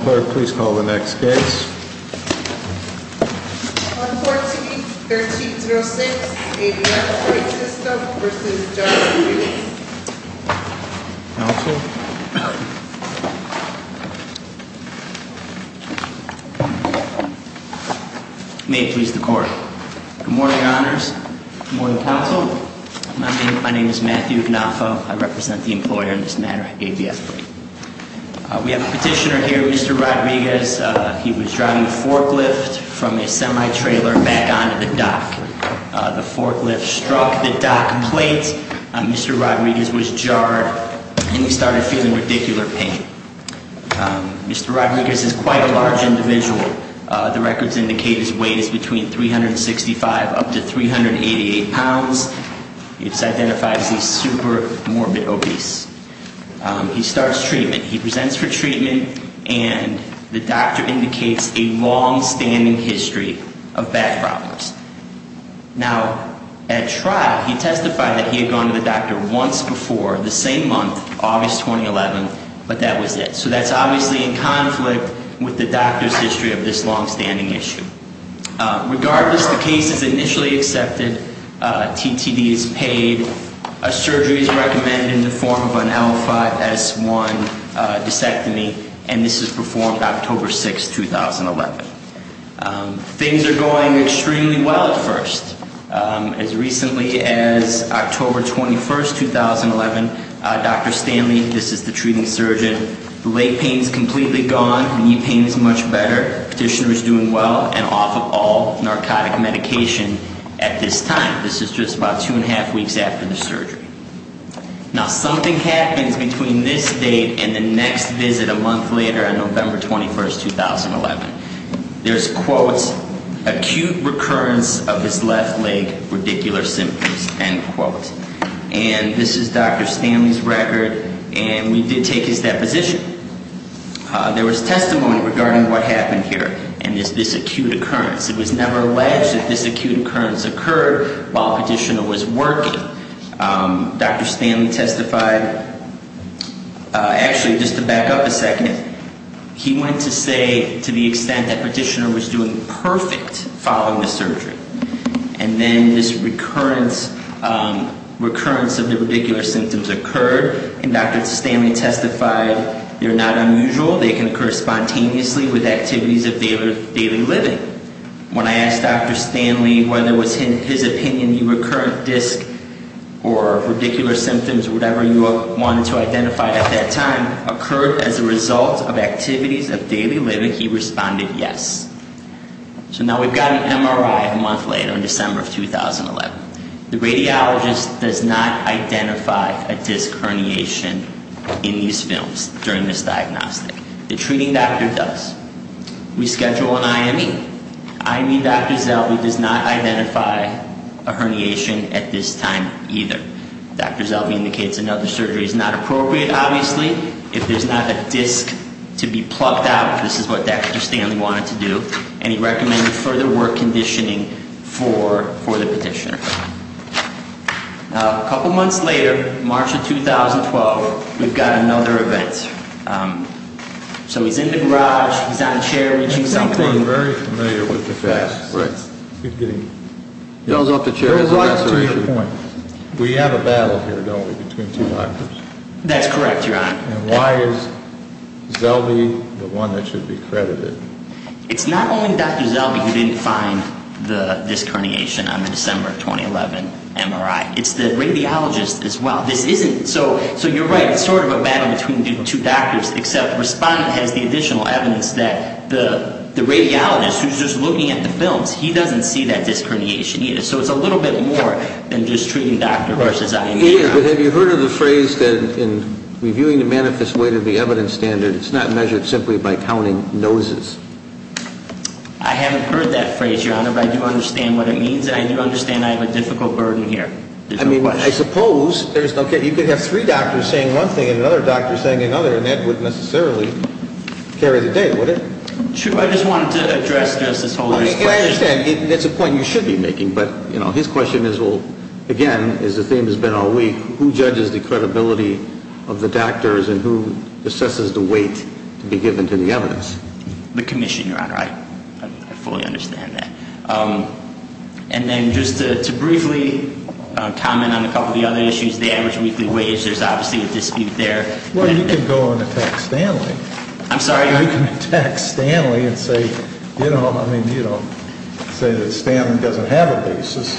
Court, please call the next case. On 14-1306, ABF Freight System v. Johnson & Newton. Counsel. May it please the Court. Good morning, Honors. Good morning, Counsel. My name is Matthew Gnafo. I represent the employer in this matter, ABF Freight. We have a petitioner here, Mr. Rodriguez. He was driving a forklift from his semi-trailer back onto the dock. The forklift struck the dock plate. Mr. Rodriguez was jarred and he started feeling ridiculous pain. Mr. Rodriguez is quite a large individual. The records indicate his weight is between 365 up to 388 pounds. It's identified as a super morbid obese. He starts treatment. He presents for treatment and the doctor indicates a long-standing history of back problems. Now, at trial, he testified that he had gone to the doctor once before the same month, August 2011, but that was it. So that's obviously in conflict with the doctor's history of this long-standing issue. Regardless, the case is initially accepted. TTD is paid. A surgery is performed on him. He has a 2011 disectomy and this is performed October 6, 2011. Things are going extremely well at first. As recently as October 21, 2011, Dr. Stanley, this is the treating surgeon, the leg pain is completely gone. The knee pain is much better. Petitioner is doing well and off of all narcotic medication at this time. This is just about two and a half weeks after the surgery. Now, something happens between this date and the next visit a month later on November 21, 2011. There's, quote, acute recurrence of his left leg radicular symptoms, end quote. And this is Dr. Stanley's record and we did take his deposition. There was testimony regarding what happened here and this acute occurrence. It was never alleged that this acute occurrence occurred while petitioner was working. Dr. Stanley testified, actually, just to back up a second, he went to say to the extent that petitioner was doing perfect following the surgery. And then this recurrence of the radicular symptoms occurred and Dr. Stanley testified they're not unusual. They can occur spontaneously with activities of daily living. When I asked Dr. Stanley whether it was his opinion he recurrent did not identify a disc or radicular symptoms or whatever you wanted to identify at that time occurred as a result of activities of daily living, he responded yes. So now we've got an MRI a month later in December of 2011. The radiologist does not identify a disc herniation in these films during this diagnostic. The treating doctor does. We schedule an IME. IME Dr. Zellwey does not identify a herniation at this time either. Dr. Zellwey indicates another surgery is not appropriate, obviously, if there's not a disc to be plucked out. This is what Dr. Stanley wanted to do and he recommended further work conditioning for the petitioner. Now, a couple months later, March of 2012, we've got another event. So he's in the garage, he's on a chair reaching something. We have a battle here, don't we, between two doctors? That's correct, Your Honor. And why is Zellwey the one that should be credited? It's not only Dr. Zellwey who didn't find the disc herniation on the December of 2011 MRI. It's the radiologist as well. So you're right, it's sort of a battle between the two doctors, except the respondent has the additional evidence that the radiologist who's just looking at the films, he doesn't see that disc herniation either. So it's a little bit more than just treating Dr. Rush's IME. But have you heard of the phrase that in reviewing the manifest weight of the evidence standard, it's not measured simply by counting noses? I haven't heard that phrase, Your Honor, but I do understand what it means, but I don't think it would necessarily carry the day, would it? True, I just wanted to address Justice Holder's question. I understand, it's a point you should be making, but his question is, again, as the theme has been all week, who judges the credibility of the doctors and who assesses the weight to be given to the evidence? The commission, Your Honor, I fully understand that. And then just to briefly comment on a couple of the other issues, the average weekly wage, there's obviously a dispute there. Well, you can go and attack Stanley. I'm sorry? You can attack Stanley and say, you know, I mean, you don't say that Stanley doesn't have a basis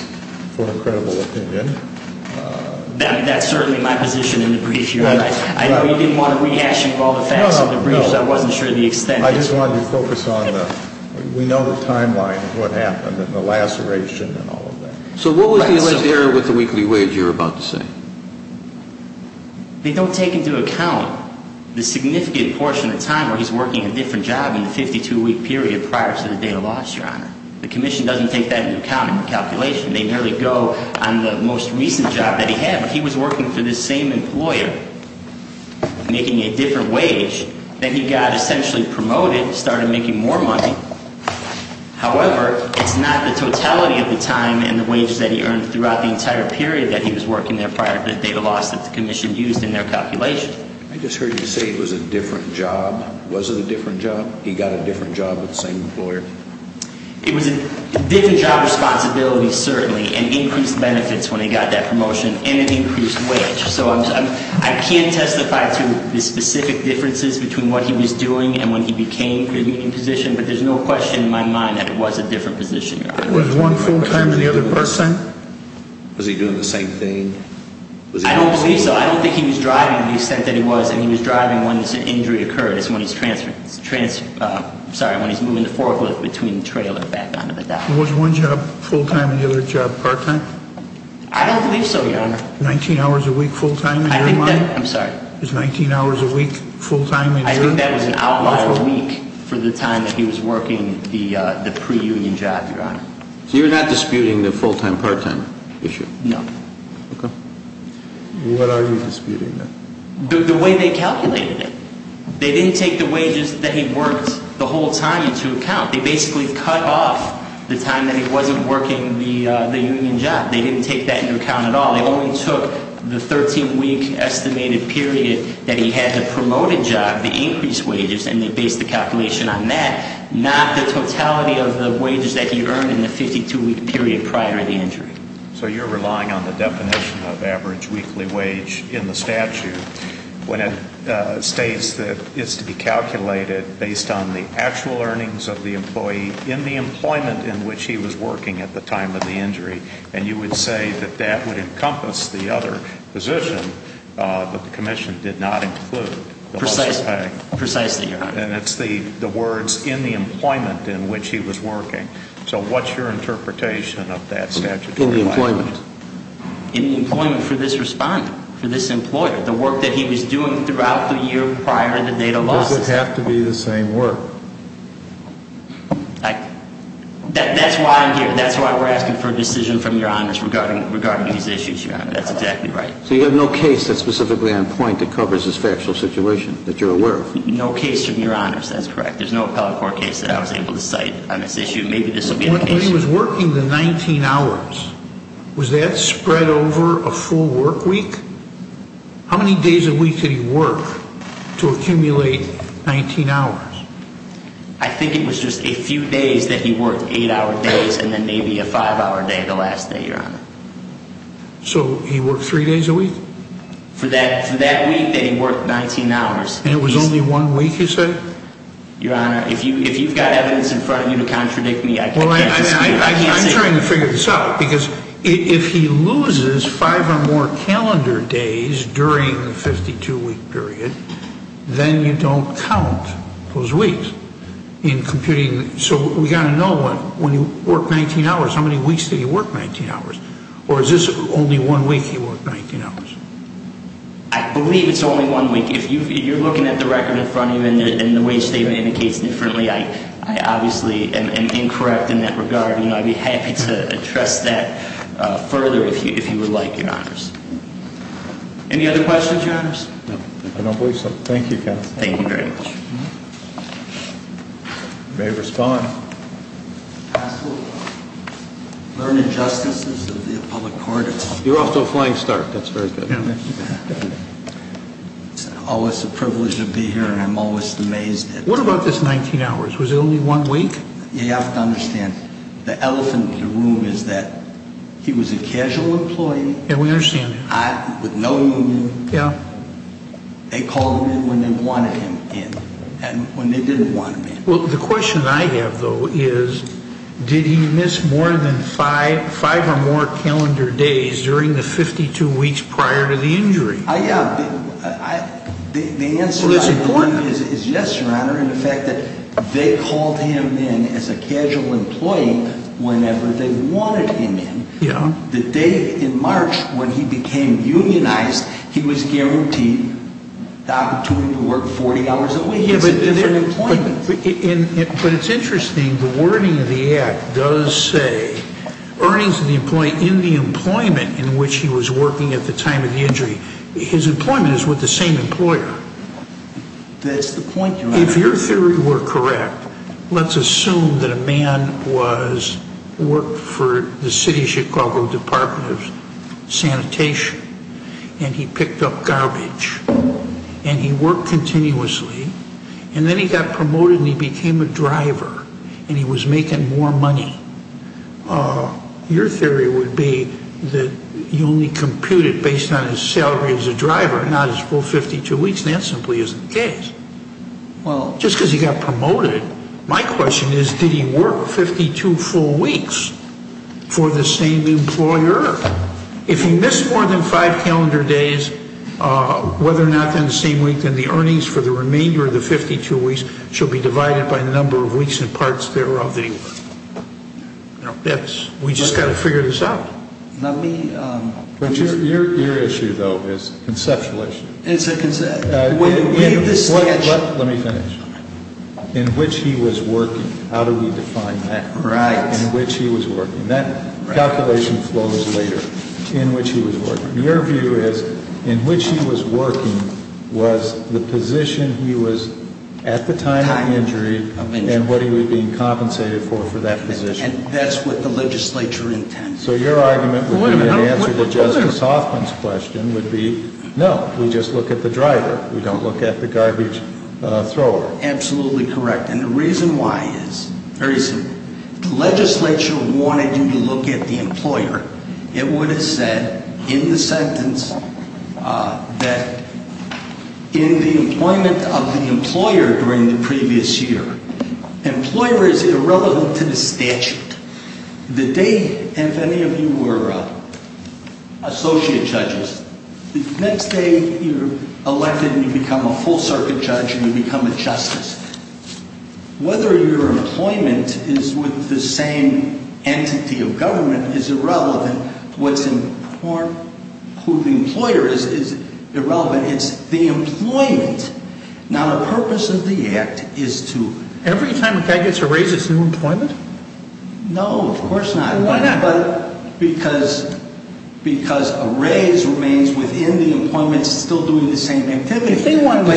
for a credible opinion. That's certainly my position in the brief, Your Honor. I know you didn't want to rehash all the facts of the brief, so I wasn't sure the extent. I just wanted to focus on the, we know the timeline of what happened and the laceration and all of that. So what was the alleged error with the weekly wage you were about to say? They don't take into account the significant portion of time where he's working a different job in the 52-week period prior to the date of loss, Your Honor. The commission doesn't take that into account in the calculation. They merely go on the most recent job that he had. He was working for this same employer, making a different wage. Then he got essentially promoted, started making more money. However, it's not the totality of the time and the wages that he earned throughout the entire period that he was working there prior to the date of loss that the commission used in their calculation. I just heard you say it was a different job. Was it a different job? He got a different job with the same employer? It was a different job responsibility, certainly, and increased benefits when he got that promotion and an increased wage. So I can't testify to the specific differences between what he was doing and when he became the meeting position, but there's no question in my mind that it was a different position, Your Honor. Was one full time than the other person? Was he doing the same thing? I don't believe so. I don't think he was driving to the extent that he was, and he was driving when the injury occurred. It's when he's transferring, sorry, when he's moving the forklift between the trail and back onto the dock. Was one job full time and the other job part time? I don't believe so, Your Honor. 19 hours a week full time in your mind? I think that, I'm sorry. Was 19 hours a week full time in your mind? I think that was an outlier week for the time that he was working the pre-union job, Your Honor. So you're not disputing the full time, part time issue? No. What are you disputing then? The way they calculated it. They didn't take the wages that he worked the whole time into account. They basically cut off the time that he wasn't working the union job. They didn't take that into account at all. They only took the 13 week estimated period that he had the promoted job, the increased wages, and they based the calculation on that. Not the totality of the wages that he earned in the 52 week period prior to the injury. So you're relying on the definition of average weekly wage in the statute when it states that it's to be calculated based on the actual earnings of the employee in the employment in which he was working at the time of the injury. And you would say that that would encompass the other position that the commission did not include. Precisely. And it's the words in the employment in which he was working. So what's your interpretation of that statute? In the employment. In the employment for this respondent, for this employer. The work that he was doing throughout the year prior to the date of loss. Does it have to be the same work? That's why I'm here. That's why we're asking for a decision from your honors regarding these issues, your honor. That's exactly right. So you have no case that's specifically on point that covers this factual situation that you're aware of? No case from your honors. That's correct. There's no appellate court case that I was able to cite on this issue. Maybe this will be the case. When he was working the 19 hours, was that spread over a full work week? How many days a week did he work to accumulate 19 hours? I think it was just a few days that he worked. Eight hour days and then maybe a five hour day the last day, your honor. For that week that he worked 19 hours. And it was only one week, you say? Your honor, if you've got evidence in front of you to contradict me, I can't dispute it. I'm trying to figure this out because if he loses five or more calendar days during the 52 week period, then you don't count those weeks in computing. So we've got to know when he worked 19 hours, how many weeks did he work 19 hours? Or is this only one week he worked 19 hours? I believe it's only one week. If you're looking at the record in front of you and the way the statement indicates differently, I obviously am incorrect in that regard. I'd be happy to address that further if you would like, your honors. Any other questions, your honors? I don't believe so. Thank you, counsel. Thank you very much. You may respond. Learned injustices of the public court. You're off to a flying start. That's very good. It's always a privilege to be here and I'm always amazed at it. What about this 19 hours? Was it only one week? You have to understand, the elephant in the room is that he was a casual employee. Yeah, we understand. With no union. They called him in when they wanted him in and when they didn't want him in. The question I have though is, did he miss more than five or more calendar days during the 52 weeks prior to the injury? The answer I believe is yes, your honor. In fact, they called him in as a casual employee whenever they wanted him in. The day in March when he became unionized, he was guaranteed the opportunity to work 40 hours a week. It's a different employment. But it's interesting, the wording of the act does say earnings in the employment in which he was working at the time of the injury. His employment is with the same employer. That's the point, your honor. If your theory were correct, let's assume that a man worked for the City of Chicago Department of Sanitation. And he picked up garbage. And he worked continuously. And then he got promoted and he became a driver. And he was making more money. Your theory would be that you only compute it based on his salary as a driver, not his full 52 weeks. That simply isn't the case. Just because he got promoted, my question is, did he work 52 full weeks for the same employer? If he missed more than five calendar days, whether or not they're the same week, then the earnings for the remainder of the 52 weeks should be divided by the number of weeks and parts thereof that he worked. We just got to figure this out. Your issue though is a conceptual issue. It's a conceptual issue. Let me finish. In which he was working, how do we define that? Right. In which he was working. That calculation flows later. In which he was working. Your view is in which he was working was the position he was at the time of injury and what he was being compensated for for that position. And that's what the legislature intends. So your argument would be in answer to Justice Hoffman's question would be, no, we just look at the driver. We don't look at the garbage thrower. Absolutely correct. And the reason why is very simple. The legislature wanted you to look at the employer. It would have said in the sentence that in the employment of the employer during the previous year, employer is irrelevant to the statute. The day, if any of you were associate judges, the next day you're elected and you become a full circuit judge and you become a justice. Whether your employment is with the same entity of government is irrelevant. What's important to the employer is irrelevant. It's the employment. Now the purpose of the act is to... Every time a guy gets a raise it's new employment? No, of course not. Why not? Because a raise remains within the employment still doing the same activity. If they wanted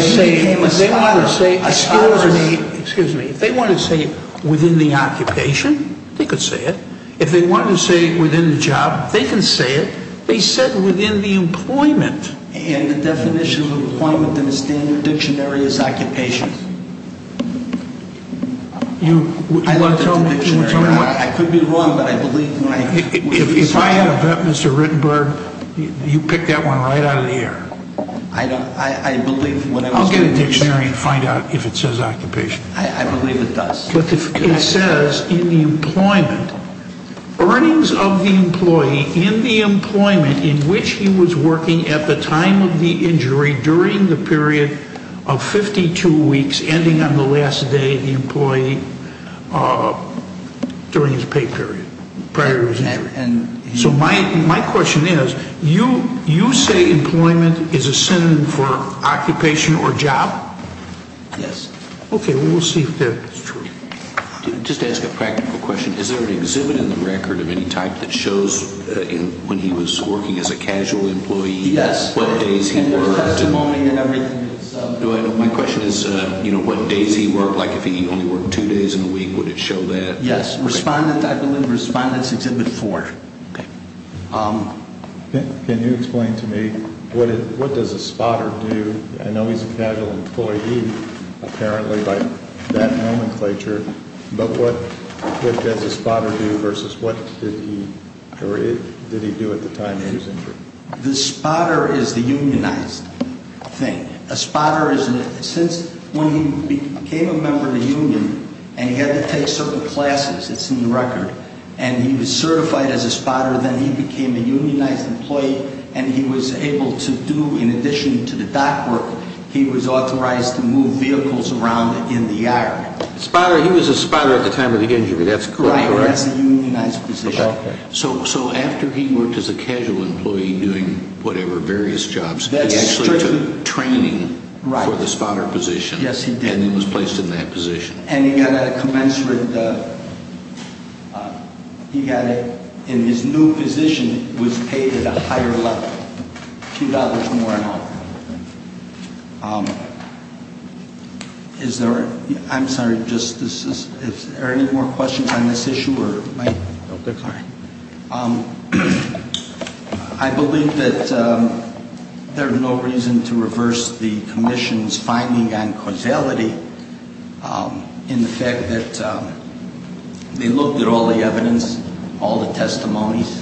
to say within the occupation, they could say it. If they wanted to say it within the job, they can say it. They said within the employment. And the definition of employment in the standard dictionary is occupation. You want to tell me... I could be wrong, but I believe... If I had a bet, Mr. Rittenberg, you pick that one right out of the air. I believe... I'll get a dictionary and find out if it says occupation. I believe it does. But it says in the employment, earnings of the employee in the employment in which he was working at the time of the injury during the period of 52 weeks ending on the last day of the employee during his pay period. Prior to his injury. So my question is, you say employment is a synonym for occupation or job? Yes. Okay, we'll see if that is true. Just to ask a practical question, is there an exhibit in the record of any type that shows when he was working as a casual employee? Yes. My question is, what days he worked? Like if he only worked two days in a week, would it show that? Yes. Respondents, I believe Respondents Exhibit 4. Okay. Can you explain to me, what does a spotter do? I know he's a casual employee apparently by that nomenclature, but what does a spotter do versus what did he do at the time of his injury? The spotter is the unionized thing. A spotter is... Since when he became a member of the union and he had to take certain classes, it's in the record, and he was certified as a spotter, then he became a unionized employee and he was able to do, in addition to the doc work, he was authorized to move vehicles around in the yard. Spotter, he was a spotter at the time of the injury, that's correct. Right, he was a unionized position. So after he worked as a casual employee doing whatever, various jobs, he actually took training for the spotter position. Yes, he did. And he was placed in that position. And he got a commensurate... He got a... And his new position was paid at a higher level, a few dollars more an hour. Is there... I'm sorry, is there any more questions on this issue? I believe that there's no reason to reverse the commission's finding on causality. In the fact that they looked at all the evidence, all the testimonies,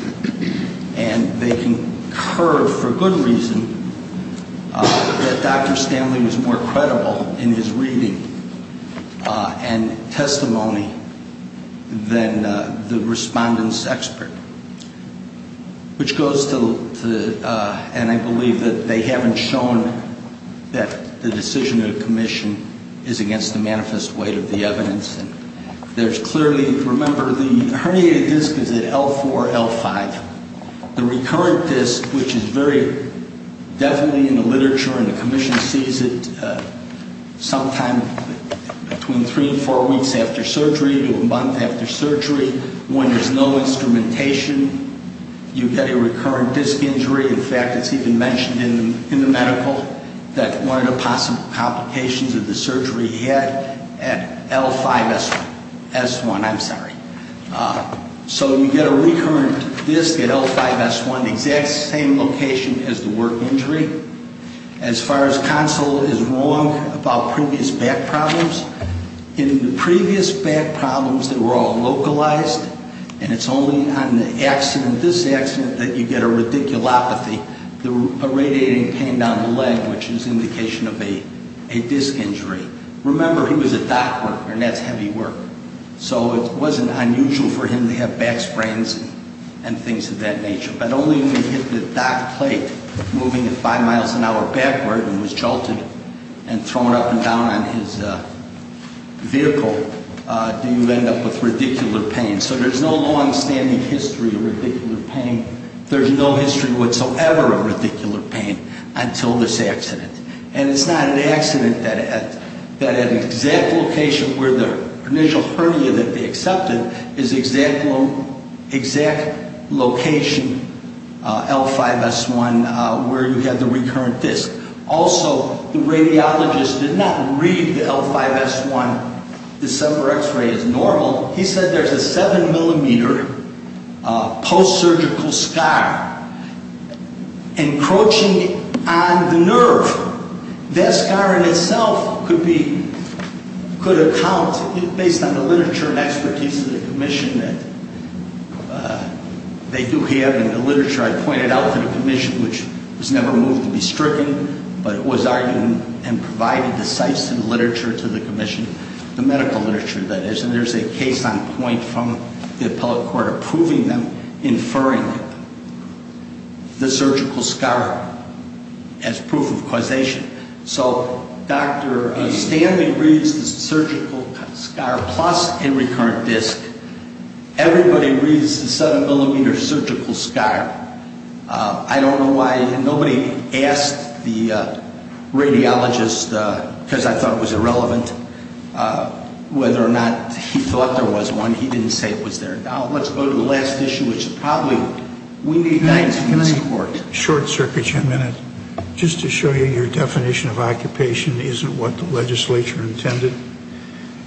and they concur, for good reason, that Dr. Stanley was more credible in his reading and testimony than the respondent's expert. Which goes to, and I believe that they haven't shown that the decision of the commission is against the manifest weight of the evidence. And there's clearly... Remember, the herniated disc is at L4, L5. The recurrent disc, which is very definitely in the literature, and the commission sees it sometime between three and four weeks after surgery to a month after surgery, when there's no instrumentation, you get a recurrent disc injury. In fact, it's even mentioned in the medical that one of the possible complications of the surgery he had at L5S1. S1, I'm sorry. So you get a recurrent disc at L5S1, the exact same location as the work injury. As far as counsel is wrong about previous back problems, in the previous back problems that were all localized, and it's only on the accident, this accident, that you get a radiculopathy, a radiating pain down the leg, which is indication of a disc injury. Remember, he was a dock worker, and that's heavy work. So it wasn't unusual for him to have back sprains and things of that nature. But only when he hit the dock plate moving at five miles an hour backward and was jolted and thrown up and down on his vehicle do you end up with radicular pain. So there's no longstanding history of radicular pain. There's no history whatsoever of radicular pain until this accident. And it's not an accident that at an exact location where the initial hernia that they accepted is the exact location, L5S1, where you had the recurrent disc. Also, the radiologist did not read the L5S1 December X-ray as normal. He said there's a seven millimeter post-surgical scar encroaching on the nerve. That scar in itself could account, based on the literature and expertise of the commission that they do have, and the literature I pointed out to the commission, which was never moved to be stricken, but it was argued and provided the sites and literature to the commission, the medical literature, that is. And there's a case on point from the appellate court approving them, inferring the surgical scar as proof of causation. So Dr. Stanley reads the surgical scar plus a recurrent disc. Everybody reads the seven millimeter surgical scar. I don't know why nobody asked the radiologist because I thought it was irrelevant. Whether or not he thought there was one, he didn't say it was there. Now let's go to the last issue, which probably we need guidance from the court. Can I short circuit you a minute? Just to show you your definition of occupation isn't what the legislature intended.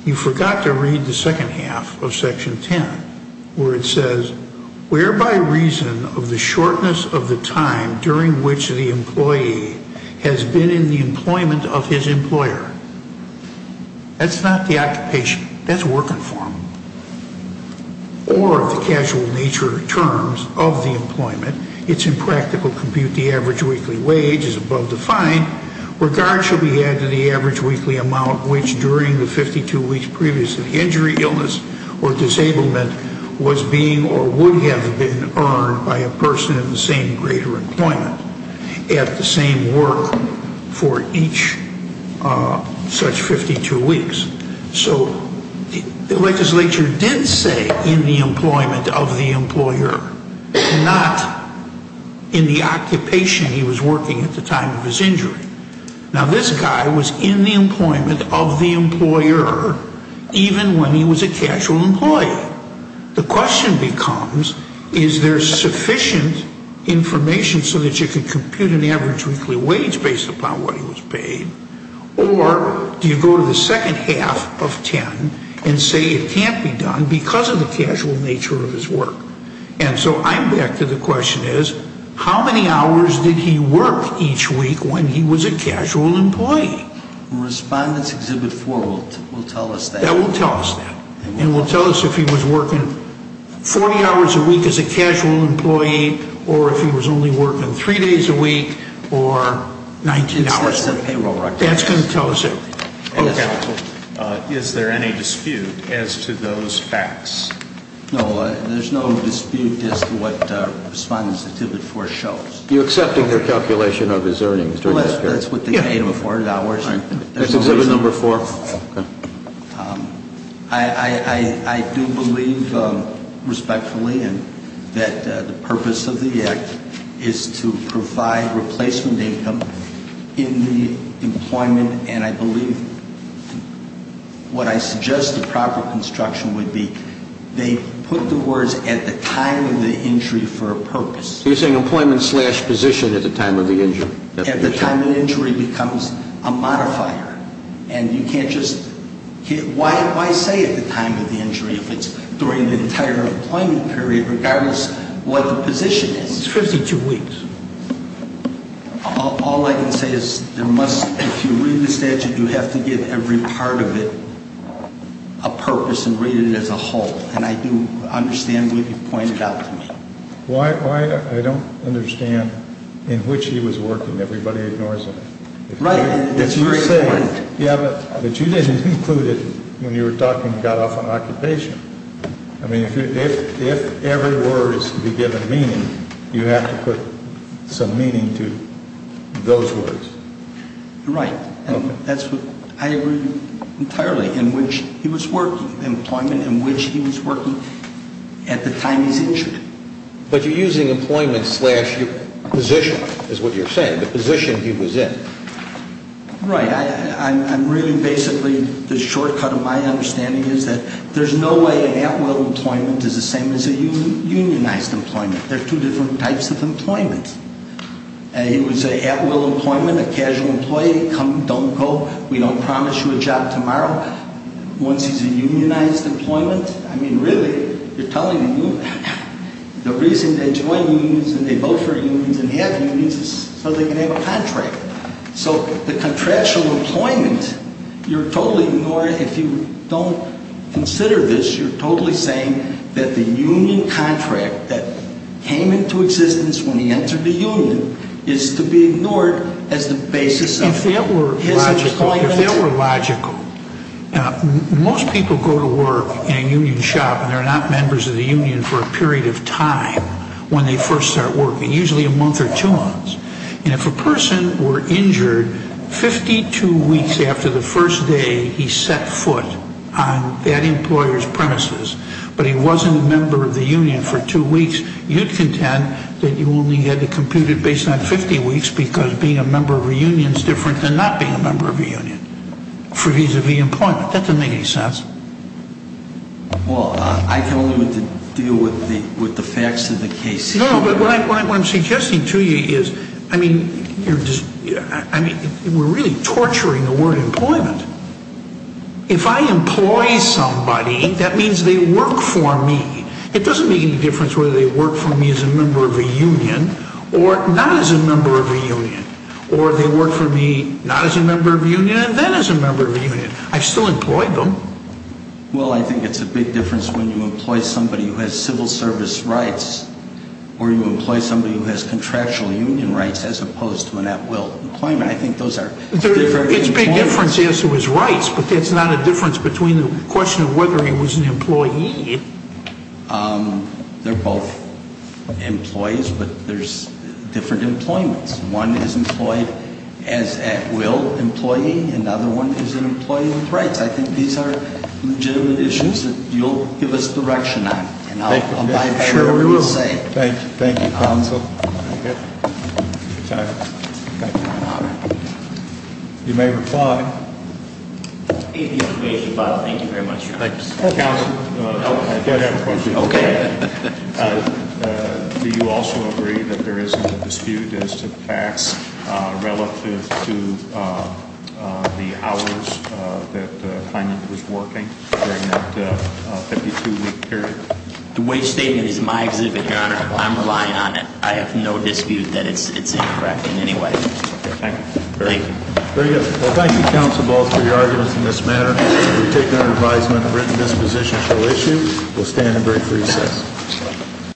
You forgot to read the second half of Section 10, where it says, Whereby reason of the shortness of the time during which the employee has been in the employment of his employer. That's not the occupation. That's working form. Or of the casual nature terms of the employment, it's impractical to compute the average weekly wage as above defined, where regard should be had to the average weekly amount which during the 52 weeks previous to the injury, illness, or disablement was being or would have been earned by a person in the same greater employment at the same work for each such 52 weeks. So the legislature did say in the employment of the employer, not in the occupation he was working at the time of his injury. Now this guy was in the employment of the employer even when he was a casual employee. The question becomes, is there sufficient information so that you can compute an average weekly wage based upon what he was paid, or do you go to the second half of 10 and say it can't be done because of the casual nature of his work? And so I'm back to the question is, how many hours did he work each week when he was a casual employee? Respondents Exhibit 4 will tell us that. And will tell us if he was working 40 hours a week as a casual employee or if he was only working 3 days a week or 19 hours a week. That's going to tell us everything. Okay. Is there any dispute as to those facts? No, there's no dispute as to what Respondents Exhibit 4 shows. You're accepting their calculation of his earnings during this period? That's what they paid him, $400. That's Exhibit 4. Okay. I do believe respectfully that the purpose of the Act is to provide replacement income in the employment, and I believe what I suggest the proper construction would be, they put the words at the time of the injury for a purpose. So you're saying employment slash position at the time of the injury. At the time of the injury becomes a modifier, and you can't just, why say at the time of the injury if it's during the entire employment period regardless what the position is? It's 52 weeks. All I can say is there must, if you read the statute, you have to give every part of it a purpose and rate it as a whole. And I do understand what you pointed out to me. Why I don't understand in which he was working, everybody ignores it. Right. But you didn't include it when you were talking about off on occupation. I mean, if every word is to be given meaning, you have to put some meaning to those words. Right. And that's what I agree entirely in which he was working, employment in which he was working at the time he was injured. But you're using employment slash position is what you're saying, the position he was in. Right. I'm reading basically the shortcut of my understanding is that there's no way an at-will employment is the same as a unionized employment. There are two different types of employment. It was an at-will employment, a casual employee, come, don't go, we don't promise you a job tomorrow. Once he's a unionized employment, I mean, really, you're telling me, the reason they join unions and they vote for unions and have unions is so they can have a contract. So the contractual employment, you're totally ignoring, if you don't consider this, you're totally saying that the union contract that came into existence when he entered the union is to be ignored as the basis of his employment. If that were logical, if that were logical, most people go to work in a union shop and they're not members of the union for a period of time when they first start working. Usually a month or two months. And if a person were injured 52 weeks after the first day he set foot on that employer's premises, but he wasn't a member of the union for two weeks, you'd contend that you only had to compute it based on 50 weeks because being a member of a union is different than not being a member of a union, vis-a-vis employment. That doesn't make any sense. Well, I can only deal with the facts of the case. No, but what I'm suggesting to you is, I mean, we're really torturing the word employment. If I employ somebody, that means they work for me. It doesn't make any difference whether they work for me as a member of a union or not as a member of a union, or they work for me not as a member of a union and then as a member of a union. I've still employed them. Well, I think it's a big difference when you employ somebody who has civil service rights or you employ somebody who has contractual union rights as opposed to an at-will employment. I think those are very different. It's a big difference as to his rights, but that's not a difference between the question of whether he was an employee. They're both employees, but there's different employments. One is employed as at-will employee. Another one is an employee with rights. I think these are legitimate issues that you'll give us direction on, and I'm sure we will. Thank you, counsel. You may reply. Counsel, I did have a question. Okay. Do you also agree that there is a dispute as to the facts relative to the hours that the client was working during that 52-week period? The wage statement is my exhibit, Your Honor. I'm relying on it. I have no dispute that it's incorrect in any way. Okay. Thank you. Thank you. Very good. Well, thank you, counsel, both, for your arguments in this matter. We've taken our advisement and written dispositions to issue. We'll stand and break for recess.